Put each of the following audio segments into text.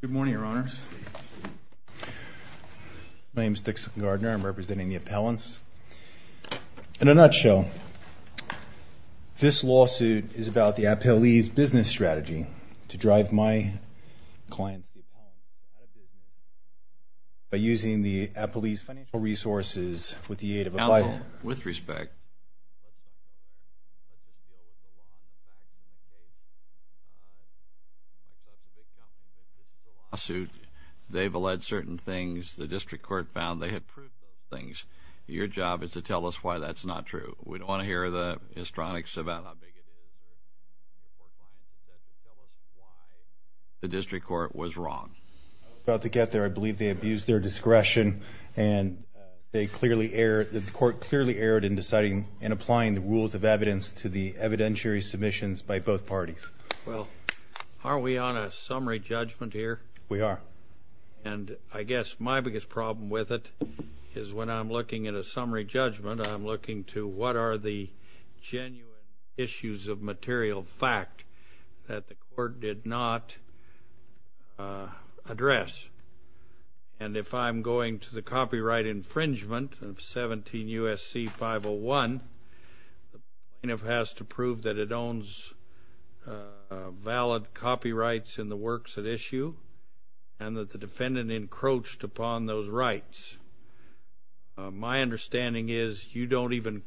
Good morning, Your Honors. My name is Dixon Gardner. I'm representing the appellants. In a nutshell, this lawsuit is about the appellee's business strategy to drive my clients to the appellant by using the appellee's financial resources with the aid of a bylaw. With respect to this lawsuit, they've alleged certain things. The district court found they had proved certain things. Your job is to tell us why that's not true. We don't want to hear the histrionics about how big it is. The district court was wrong. I was about to get there. I believe they abused their discretion and they clearly erred. The court clearly erred in deciding and applying the rules of evidence to the evidentiary submissions by both parties. Well, are we on a summary judgment here? We are. And I guess my biggest problem with it is when I'm looking at a summary judgment, I'm looking to what are the genuine issues of material fact that the court did not address. And if I'm going to the copyright infringement of 17 U.S.C. 501, the plaintiff has to prove that it owns valid copyrights in the works at issue and that the defendant encroached upon those rights. My understanding is you don't even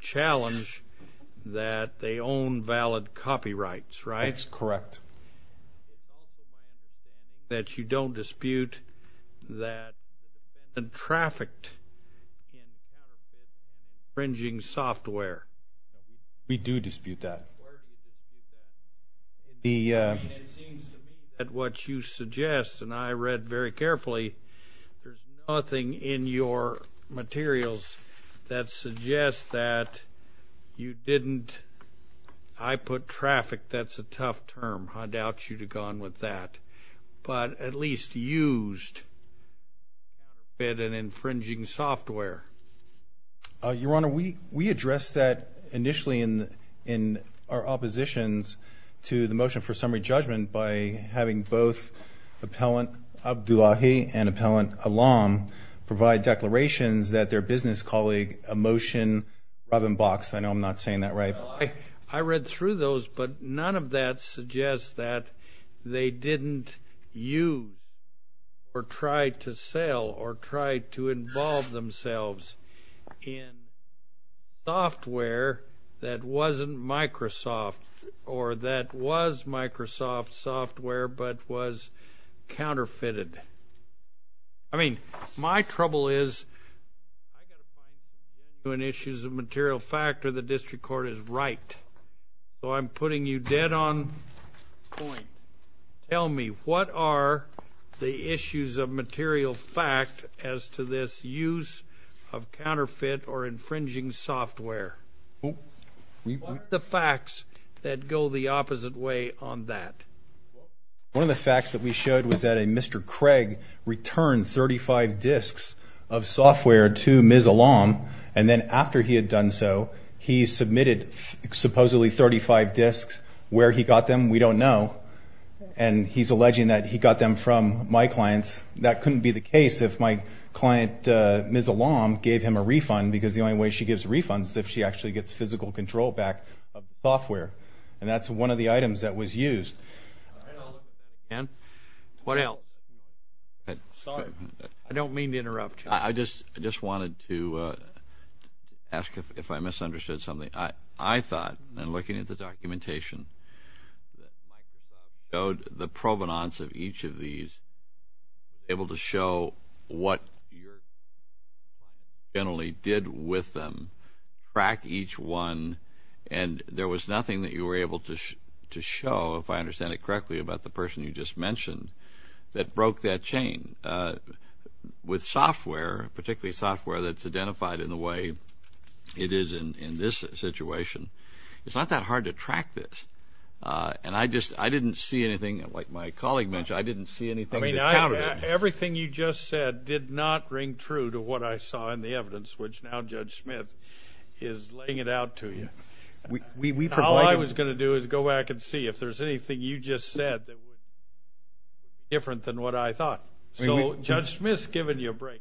challenge that they own valid copyrights, right? That's correct. It's also my understanding that you don't dispute that the defendant trafficked infringing software. We do dispute that. It seems to me that what you suggest, and I read very carefully, there's nothing in your materials that suggests that you didn't. I put traffic. That's a tough term. I doubt you'd have gone with that. But at least used an infringing software. Your Honor, we addressed that initially in our oppositions to the motion for summary judgment by having both Appellant Abdullahi and Appellant Alam provide declarations that their business colleague emotion Robin Box. I know I'm not saying that right. I read through those, but none of that suggests that they didn't use or try to sell or try to involve themselves in software that wasn't Microsoft or that was Microsoft software but was counterfeited. I mean, my trouble is when issues of material fact or the district court is right. So I'm putting you dead on point. Tell me, what are the issues of material fact as to this use of counterfeit or infringing software? What are the facts that go the opposite way on that? One of the facts that we showed was that a Mr. Craig returned 35 disks of software to Ms. Alam. And then after he had done so, he submitted supposedly 35 disks. Where he got them, we don't know. And he's alleging that he got them from my clients. That couldn't be the case if my client, Ms. Alam, gave him a refund because the only way she gives refunds is if she actually gets physical control back of the software. And that's one of the items that was used. And what else? Sorry. I don't mean to interrupt you. I just wanted to ask if I misunderstood something. I thought in looking at the documentation that Microsoft showed the provenance of each of these, able to show what you only did with them, track each one, and there was nothing that you were able to show, if I understand it correctly, about the person you just mentioned that broke that chain. With software, particularly software that's identified in the way it is in this situation, it's not that hard to track this. I didn't see anything, like my colleague mentioned, I didn't see anything that counted it. Everything you just said did not ring true to what I saw in the evidence, which now Judge Smith is laying it out to you. All I was going to do is go back and see if there's anything you just said that was different than what I thought. So, Judge Smith's giving you a break.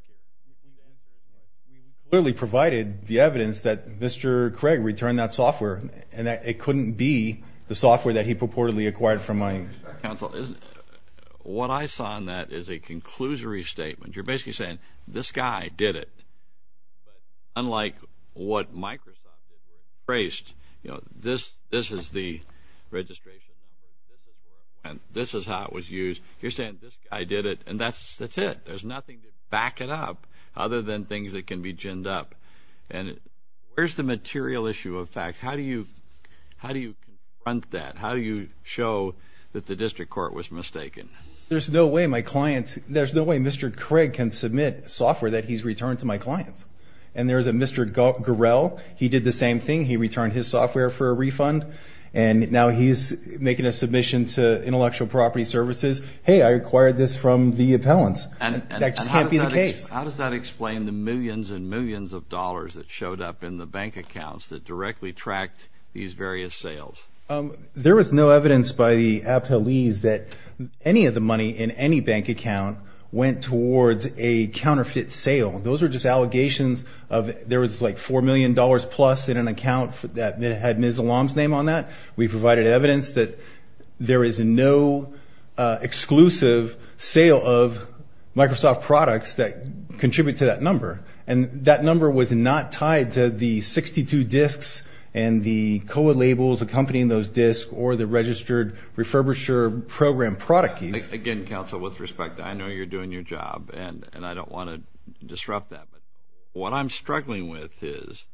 We clearly provided the evidence that Mr. Craig returned that software and that it couldn't be the software that he purportedly acquired from my counsel. What I saw in that is a conclusory statement. You're basically saying this guy did it. But unlike what Microsoft phrased, you know, this is the registration, and this is how it was used. You're saying this guy did it, and that's it. There's nothing to back it up other than things that can be ginned up. And where's the material issue of fact? How do you front that? How do you show that the district court was mistaken? There's no way my client, there's no way Mr. Craig can submit software that he's returned to my clients. And there's a Mr. Gorel, he did the same thing. He returned his software for a refund, and now he's making a submission to Intellectual Property Services. Hey, I acquired this from the appellants. That just can't be the case. How does that explain the millions and millions of dollars that showed up in the bank accounts that directly tracked these various sales? There was no evidence by the appellees that any of the money in any bank account went towards a counterfeit sale. Those are just allegations of there was like $4 million plus in an account that had Ms. Alam's name on that. We provided evidence that there is no exclusive sale of Microsoft products that contribute to that number. And that number was not tied to the 62 disks and the COA labels accompanying those disks or the registered refurbisher program product keys. Again, counsel, with respect, I know you're doing your job, and I don't want to disrupt that. What I'm struggling with is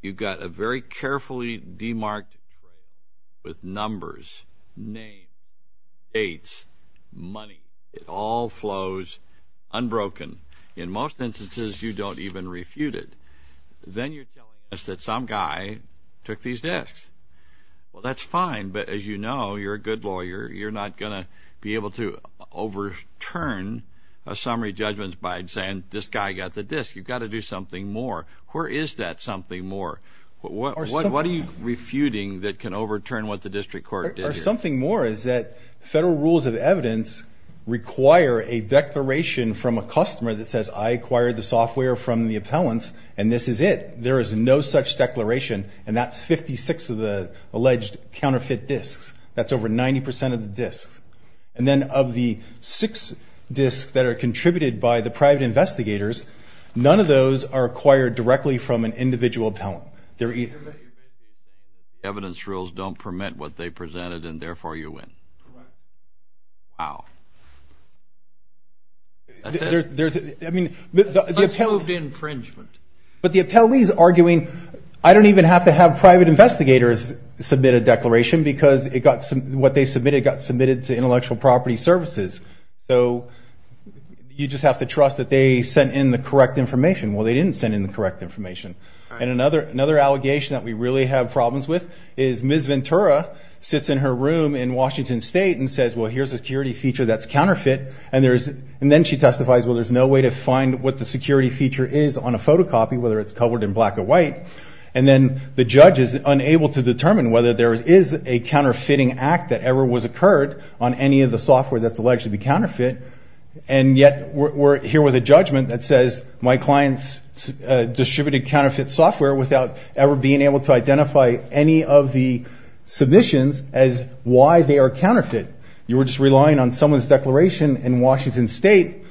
you've got a very carefully demarked tray with numbers, names, dates, money. It all flows unbroken. In most instances, you don't even refute it. Then you're telling us that some guy took these disks. Well, that's fine, but as you know, you're a good lawyer. You're not going to be able to overturn a summary judgment by saying this guy got the disks. You've got to do something more. Where is that something more? What are you refuting that can overturn what the district court did here? Something more is that federal rules of evidence require a declaration from a customer that says, I acquired the software from the appellants, and this is it. There is no such declaration, and that's 56 of the alleged counterfeit disks. That's over 90% of the disks. And then of the six disks that are contributed by the private investigators, none of those are acquired directly from an individual appellant. The evidence rules don't permit what they presented, and therefore you win. Correct. Wow. That's it. I mean, the appellee's arguing, I don't even have to have private investigators submit a declaration because what they submitted got submitted to intellectual property services. So you just have to trust that they sent in the correct information. Well, they didn't send in the correct information. And another allegation that we really have problems with is Ms. Ventura sits in her room in Washington State and says, well, here's a security feature that's counterfeit, and then she testifies, well, there's no way to find what the security feature is on a photocopy, whether it's covered in black or white. And then the judge is unable to determine whether there is a counterfeiting act that ever was occurred on any of the software that's alleged to be counterfeit, and yet we're here with a judgment that says my clients distributed counterfeit software without ever being able to identify any of the submissions as why they are counterfeit. You were just relying on someone's declaration in Washington State,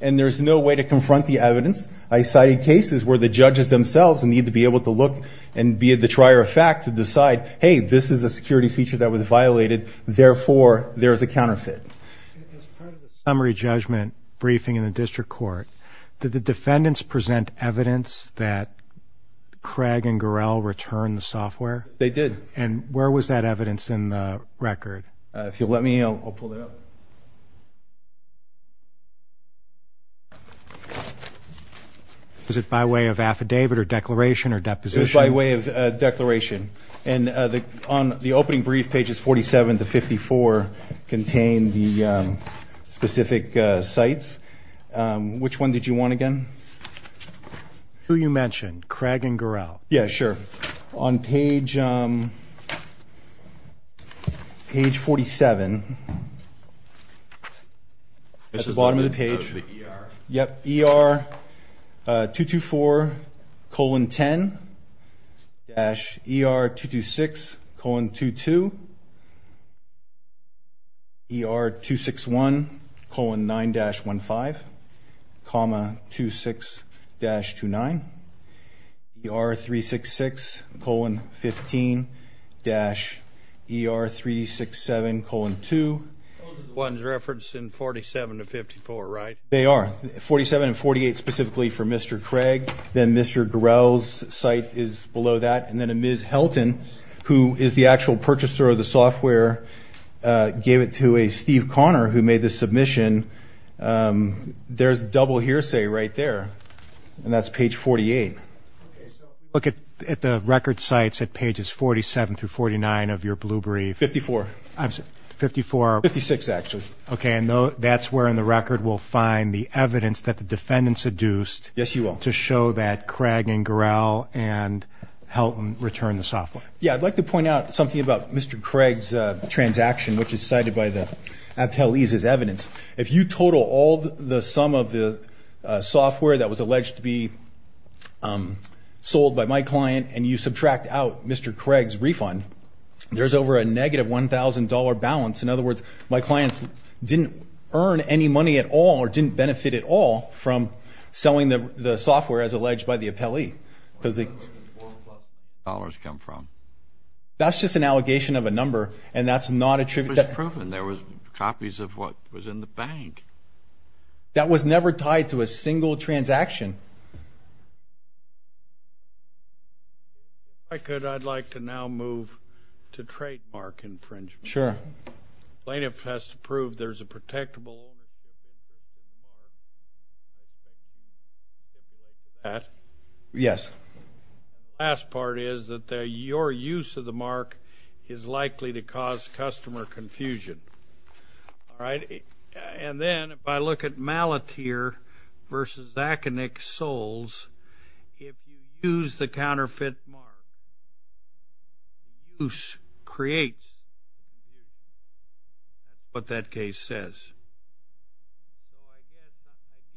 and there's no way to confront the evidence. I cited cases where the judges themselves need to be able to look and be at the trier of fact to decide, hey, this is a security feature that was violated, therefore there is a counterfeit. As part of the summary judgment briefing in the district court, did the defendants present evidence that Craig and Gorel returned the software? They did. And where was that evidence in the record? If you'll let me, I'll pull it up. Was it by way of affidavit or declaration or deposition? It was by way of declaration. And on the opening brief, pages 47 to 54 contain the specific sites. Which one did you want again? Who you mentioned, Craig and Gorel. Yeah, sure. On page 47, at the bottom of the page. ER 224 colon 10 dash ER 226 colon 22. ER 261 colon 9 dash 15 comma 26 dash 29. ER 366 colon 15 dash ER 367 colon 2. Those are the ones referenced in 47 to 54, right? They are. 47 and 48 specifically for Mr. Craig. Then Mr. Gorel's site is below that. And then Ms. Helton, who is the actual purchaser of the software, gave it to a Steve Connor who made the submission. There's double hearsay right there. And that's page 48. Okay, so if you look at the record sites at pages 47 through 49 of your blue brief. 54. I'm sorry, 54. 56, actually. Okay, and that's where in the record we'll find the evidence that the defendant seduced. Yes, you will. To show that Craig and Gorel and Helton returned the software. Yeah, I'd like to point out something about Mr. Craig's transaction, which is cited by the appellees as evidence. If you total all the sum of the software that was alleged to be sold by my client and you subtract out Mr. Craig's refund, there's over a negative $1,000 balance. In other words, my clients didn't earn any money at all or didn't benefit at all from selling the software as alleged by the appellee. Where did the $1,000 come from? That's just an allegation of a number, and that's not attributable. It was proven. There were copies of what was in the bank. That was never tied to a single transaction. If I could, I'd like to now move to trademark infringement. Sure. Plaintiff has to prove there's a protectable owner. Yes. The last part is that your use of the mark is likely to cause customer confusion. All right? And then if I look at Malatir versus Zakenick Soles, if you use the counterfeit mark, who creates what that case says?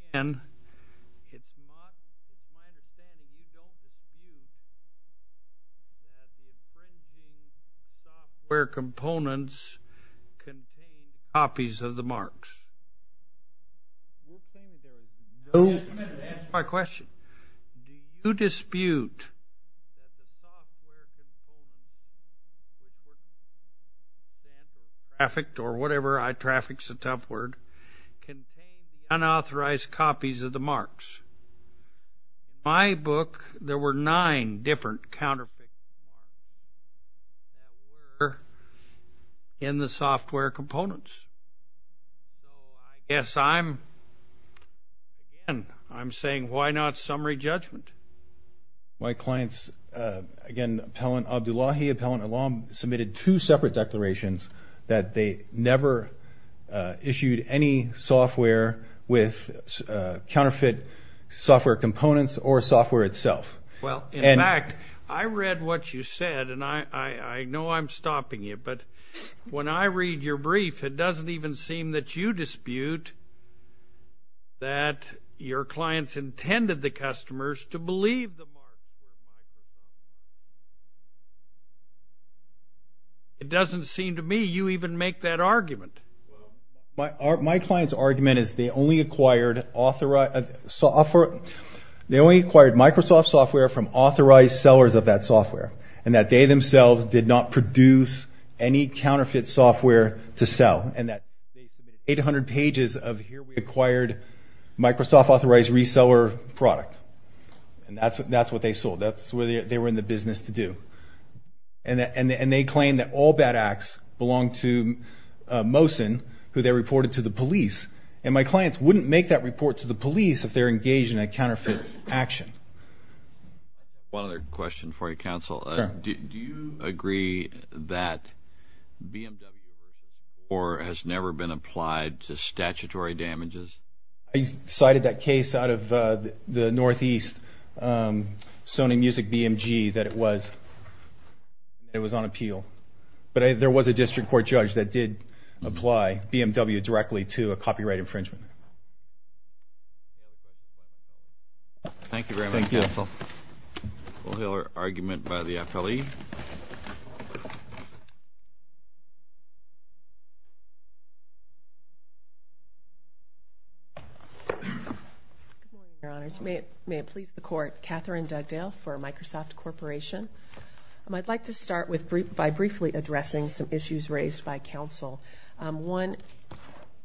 Again, it's my understanding you don't dispute that the infringing software components contain copies of the marks. You're saying there's no dispute? That's my question. Do you dispute that the software components, whether it's counterfeit or trafficked or whatever, I traffic's a tough word, contain unauthorized copies of the marks? In my book, there were nine different counterfeit marks that were in the software components. So I guess, again, I'm saying why not summary judgment? My clients, again, Appellant Abdullahi, Appellant Alam, submitted two separate declarations that they never issued any software with counterfeit software components or software itself. Well, in fact, I read what you said, and I know I'm stopping you. But when I read your brief, it doesn't even seem that you dispute that your clients intended the customers to believe the marks. It doesn't seem to me you even make that argument. My client's argument is they only acquired Microsoft software from authorized sellers of that software and that they themselves did not produce any counterfeit software to sell and that they submitted 800 pages of here we acquired Microsoft authorized reseller product. And that's what they sold. That's what they were in the business to do. And they claim that all bad acts belong to Mohsen, who they reported to the police. And my clients wouldn't make that report to the police if they're engaged in a counterfeit action. One other question for you, Counsel. Do you agree that BMW has never been applied to statutory damages? I cited that case out of the Northeast, Sony Music BMG, that it was on appeal. But there was a district court judge that did apply BMW directly to a copyright infringement. Thank you. Thank you very much, Counsel. We'll hear our argument by the appellee. Good morning, Your Honors. May it please the Court. Catherine Dugdale for Microsoft Corporation. I'd like to start by briefly addressing some issues raised by Counsel. One,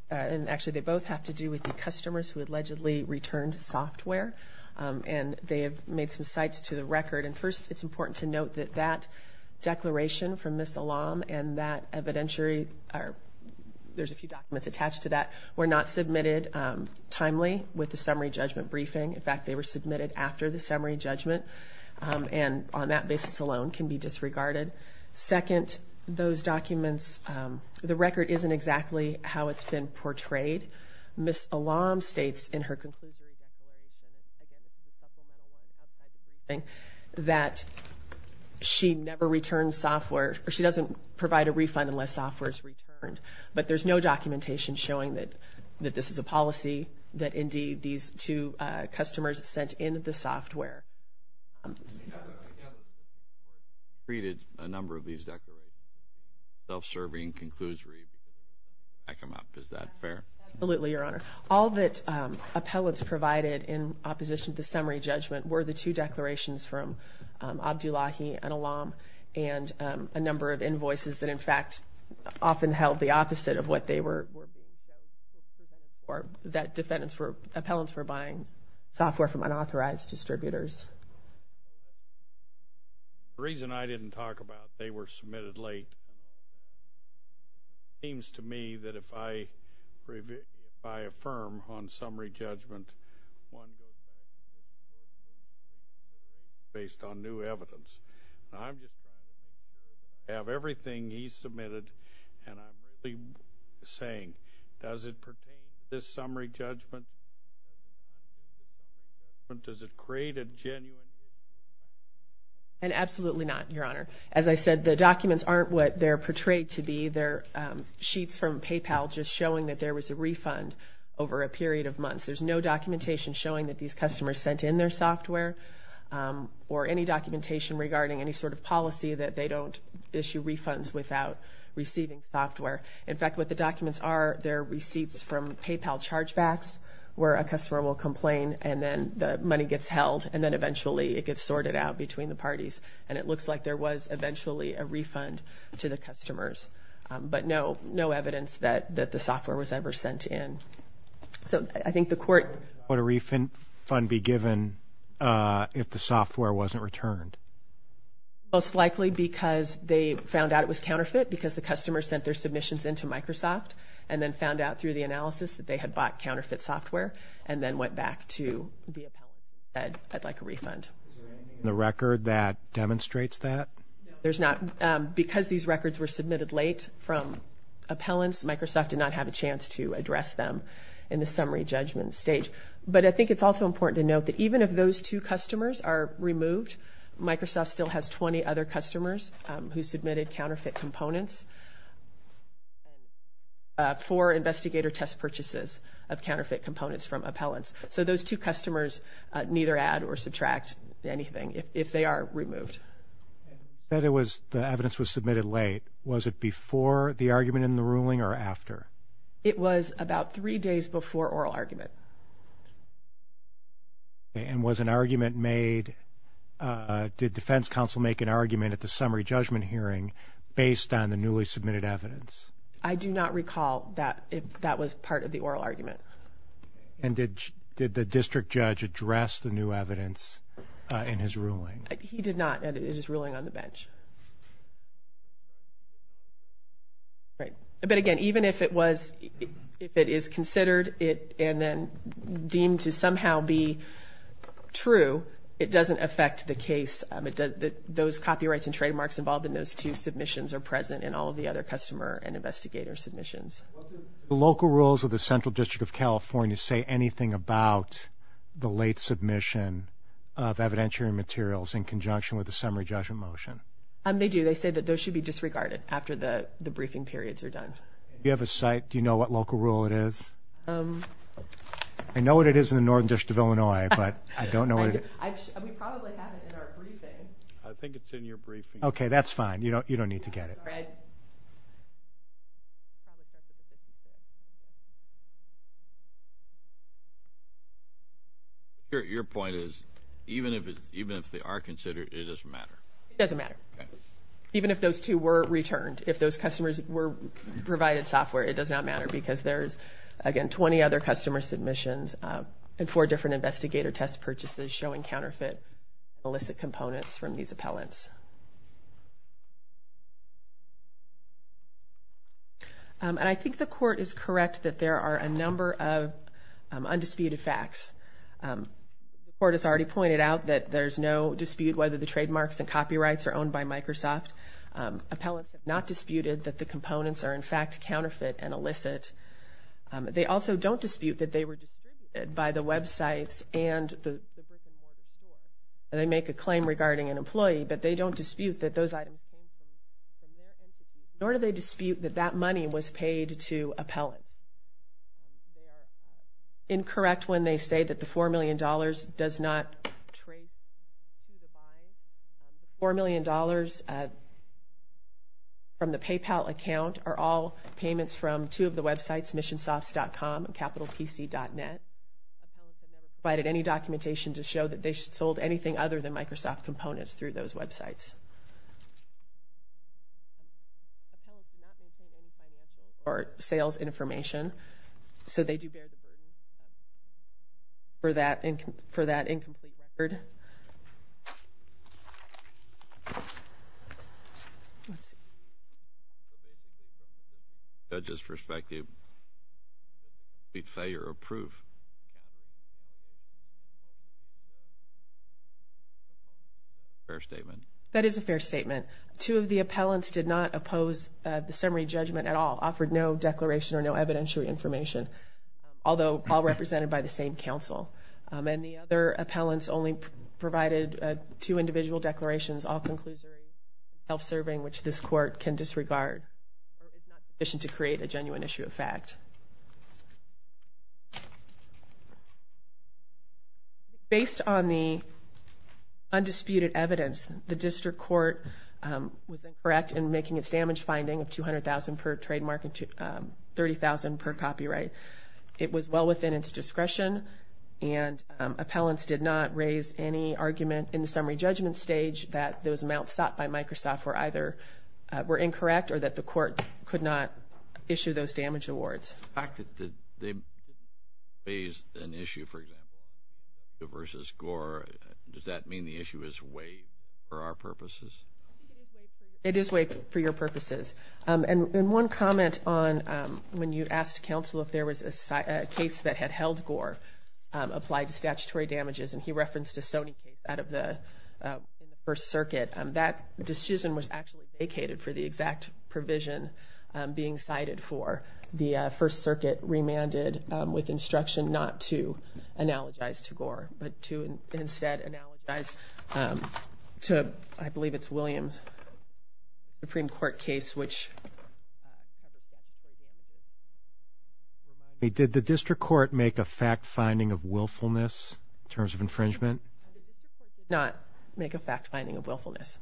and actually they both have to do with the customers who allegedly returned software. And they have made some cites to the record. And first, it's important to note that that declaration from Ms. Alam and that evidentiary, there's a few documents attached to that, were not submitted timely with the summary judgment briefing. In fact, they were submitted after the summary judgment. And on that basis alone can be disregarded. Second, those documents, the record isn't exactly how it's been portrayed. Ms. Alam states in her conclusion that she never returned software, or she doesn't provide a refund unless software is returned. But there's no documentation showing that this is a policy, that indeed these two customers sent in the software. I gather you created a number of these declarations. Self-serving, conclusory, back them up. Is that fair? Absolutely, Your Honor. All that appellants provided in opposition to the summary judgment were the two declarations from Abdullahi and Alam and a number of invoices that, in fact, often held the opposite of what they were. Or that defendants were, appellants were buying software from unauthorized distributors. The reason I didn't talk about they were submitted late, it seems to me that if I affirm on summary judgment based on new evidence, I have everything he submitted and I'm saying, does it pertain to this summary judgment? Does it create a genuine? Absolutely not, Your Honor. As I said, the documents aren't what they're portrayed to be. They're sheets from PayPal just showing that there was a refund over a period of months. There's no documentation showing that these customers sent in their software or any documentation regarding any sort of policy that they don't issue refunds without receiving software. In fact, what the documents are, they're receipts from PayPal chargebacks where a customer will complain and then the money gets held and then eventually it gets sorted out between the parties. And it looks like there was eventually a refund to the customers, but no evidence that the software was ever sent in. Would a refund be given if the software wasn't returned? Most likely because they found out it was counterfeit because the customer sent their submissions into Microsoft and then found out through the analysis that they had bought counterfeit software and then went back to the appellant and said, I'd like a refund. Is there anything in the record that demonstrates that? Because these records were submitted late from appellants, Microsoft did not have a chance to address them in the summary judgment stage. But I think it's also important to note that even if those two customers are removed, Microsoft still has 20 other customers who submitted counterfeit components for investigator test purchases of counterfeit components from appellants. So those two customers neither add or subtract anything if they are removed. You said the evidence was submitted late. Was it before the argument in the ruling or after? It was about three days before oral argument. And was an argument made, did defense counsel make an argument at the summary judgment hearing based on the newly submitted evidence? I do not recall that that was part of the oral argument. And did the district judge address the new evidence in his ruling? He did not, and it is ruling on the bench. But again, even if it is considered and then deemed to somehow be true, it doesn't affect the case. Those copyrights and trademarks involved in those two submissions are present in all of the other customer and investigator submissions. The local rules of the Central District of California say anything about the late submission of evidentiary materials in conjunction with the summary judgment motion. They do. They say that those should be disregarded after the briefing periods are done. Do you have a site? Do you know what local rule it is? I know what it is in the Northern District of Illinois, but I don't know what it is. We probably have it in our briefing. I think it's in your briefing. Okay, that's fine. You don't need to get it. Fred? Your point is even if they are considered, it doesn't matter. It doesn't matter. Even if those two were returned, if those customers were provided software, it does not matter because there's, again, 20 other customer submissions and four different investigator test purchases showing counterfeit and illicit components from these appellants. And I think the court is correct that there are a number of undisputed facts. The court has already pointed out that there's no dispute whether the trademarks and copyrights are owned by Microsoft. Appellants have not disputed that the components are, in fact, counterfeit and illicit. They also don't dispute that they were distributed by the websites and they make a claim regarding an employee, but they don't dispute that those items came from their entity, nor do they dispute that that money was paid to appellants. They are incorrect when they say that the $4 million does not trace to the buyer. $4 million from the PayPal account are all payments from two of the websites, missionsofts.com and capitalpc.net. Appellants have not provided any documentation to show that they sold anything other than Microsoft components through those websites. Appellants do not maintain any financial or sales information, so they do bear the burden for that incomplete record. That is a fair statement. Two of the appellants did not oppose the summary judgment at all, offered no declaration or no evidentiary information, although all represented by the same counsel. And the other appellants only provided two individual declarations, all conclusory, self-serving, which this court can disregard. It's not sufficient to create a genuine issue of fact. Based on the undisputed evidence, the district court was incorrect in making its damage finding of $200,000 per trademark and $30,000 per copyright. It was well within its discretion, and appellants did not raise any argument in the summary judgment stage that those amounts sought by Microsoft were either incorrect or that the court could not issue those damage awards. The fact that they raised an issue, for example, versus Gore, does that mean the issue is way for our purposes? It is way for your purposes. And one comment on when you asked counsel if there was a case that had held Gore applied to statutory damages, and he referenced a Sony case out of the First Circuit, that decision was actually vacated for the exact provision being cited for. The First Circuit remanded with instruction not to analogize to Gore, but to instead analogize to, I believe it's Williams' Supreme Court case, which had the exact provision being cited. Did the district court make a fact finding of willfulness in terms of infringement? The district court did not make a fact finding of willfulness.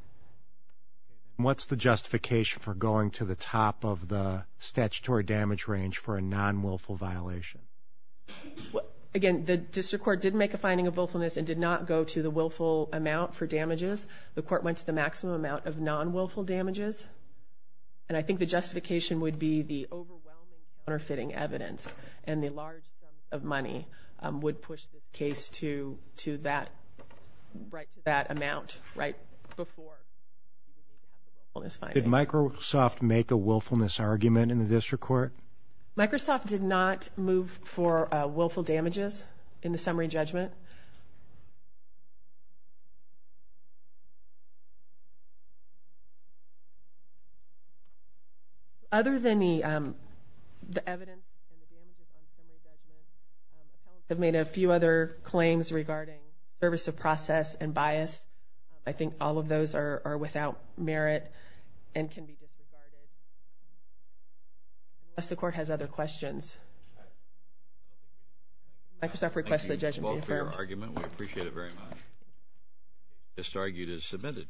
What's the justification for going to the top of the statutory damage range for a non-willful violation? Again, the district court did make a finding of willfulness and did not go to the willful amount for damages. The court went to the maximum amount of non-willful damages, and I think the justification would be the overwhelming counterfeiting evidence and the large sum of money would push the case to that amount right before. Did Microsoft make a willfulness argument in the district court? Microsoft did not move for willful damages in the summary judgment. Other than the evidence and the damages on the summary judgment, the college has made a few other claims regarding service of process and bias. I think all of those are without merit and can be disregarded. Unless the court has other questions. Microsoft requests the judgment be affirmed. Thank you both for your argument. We appreciate it very much. This argument is submitted.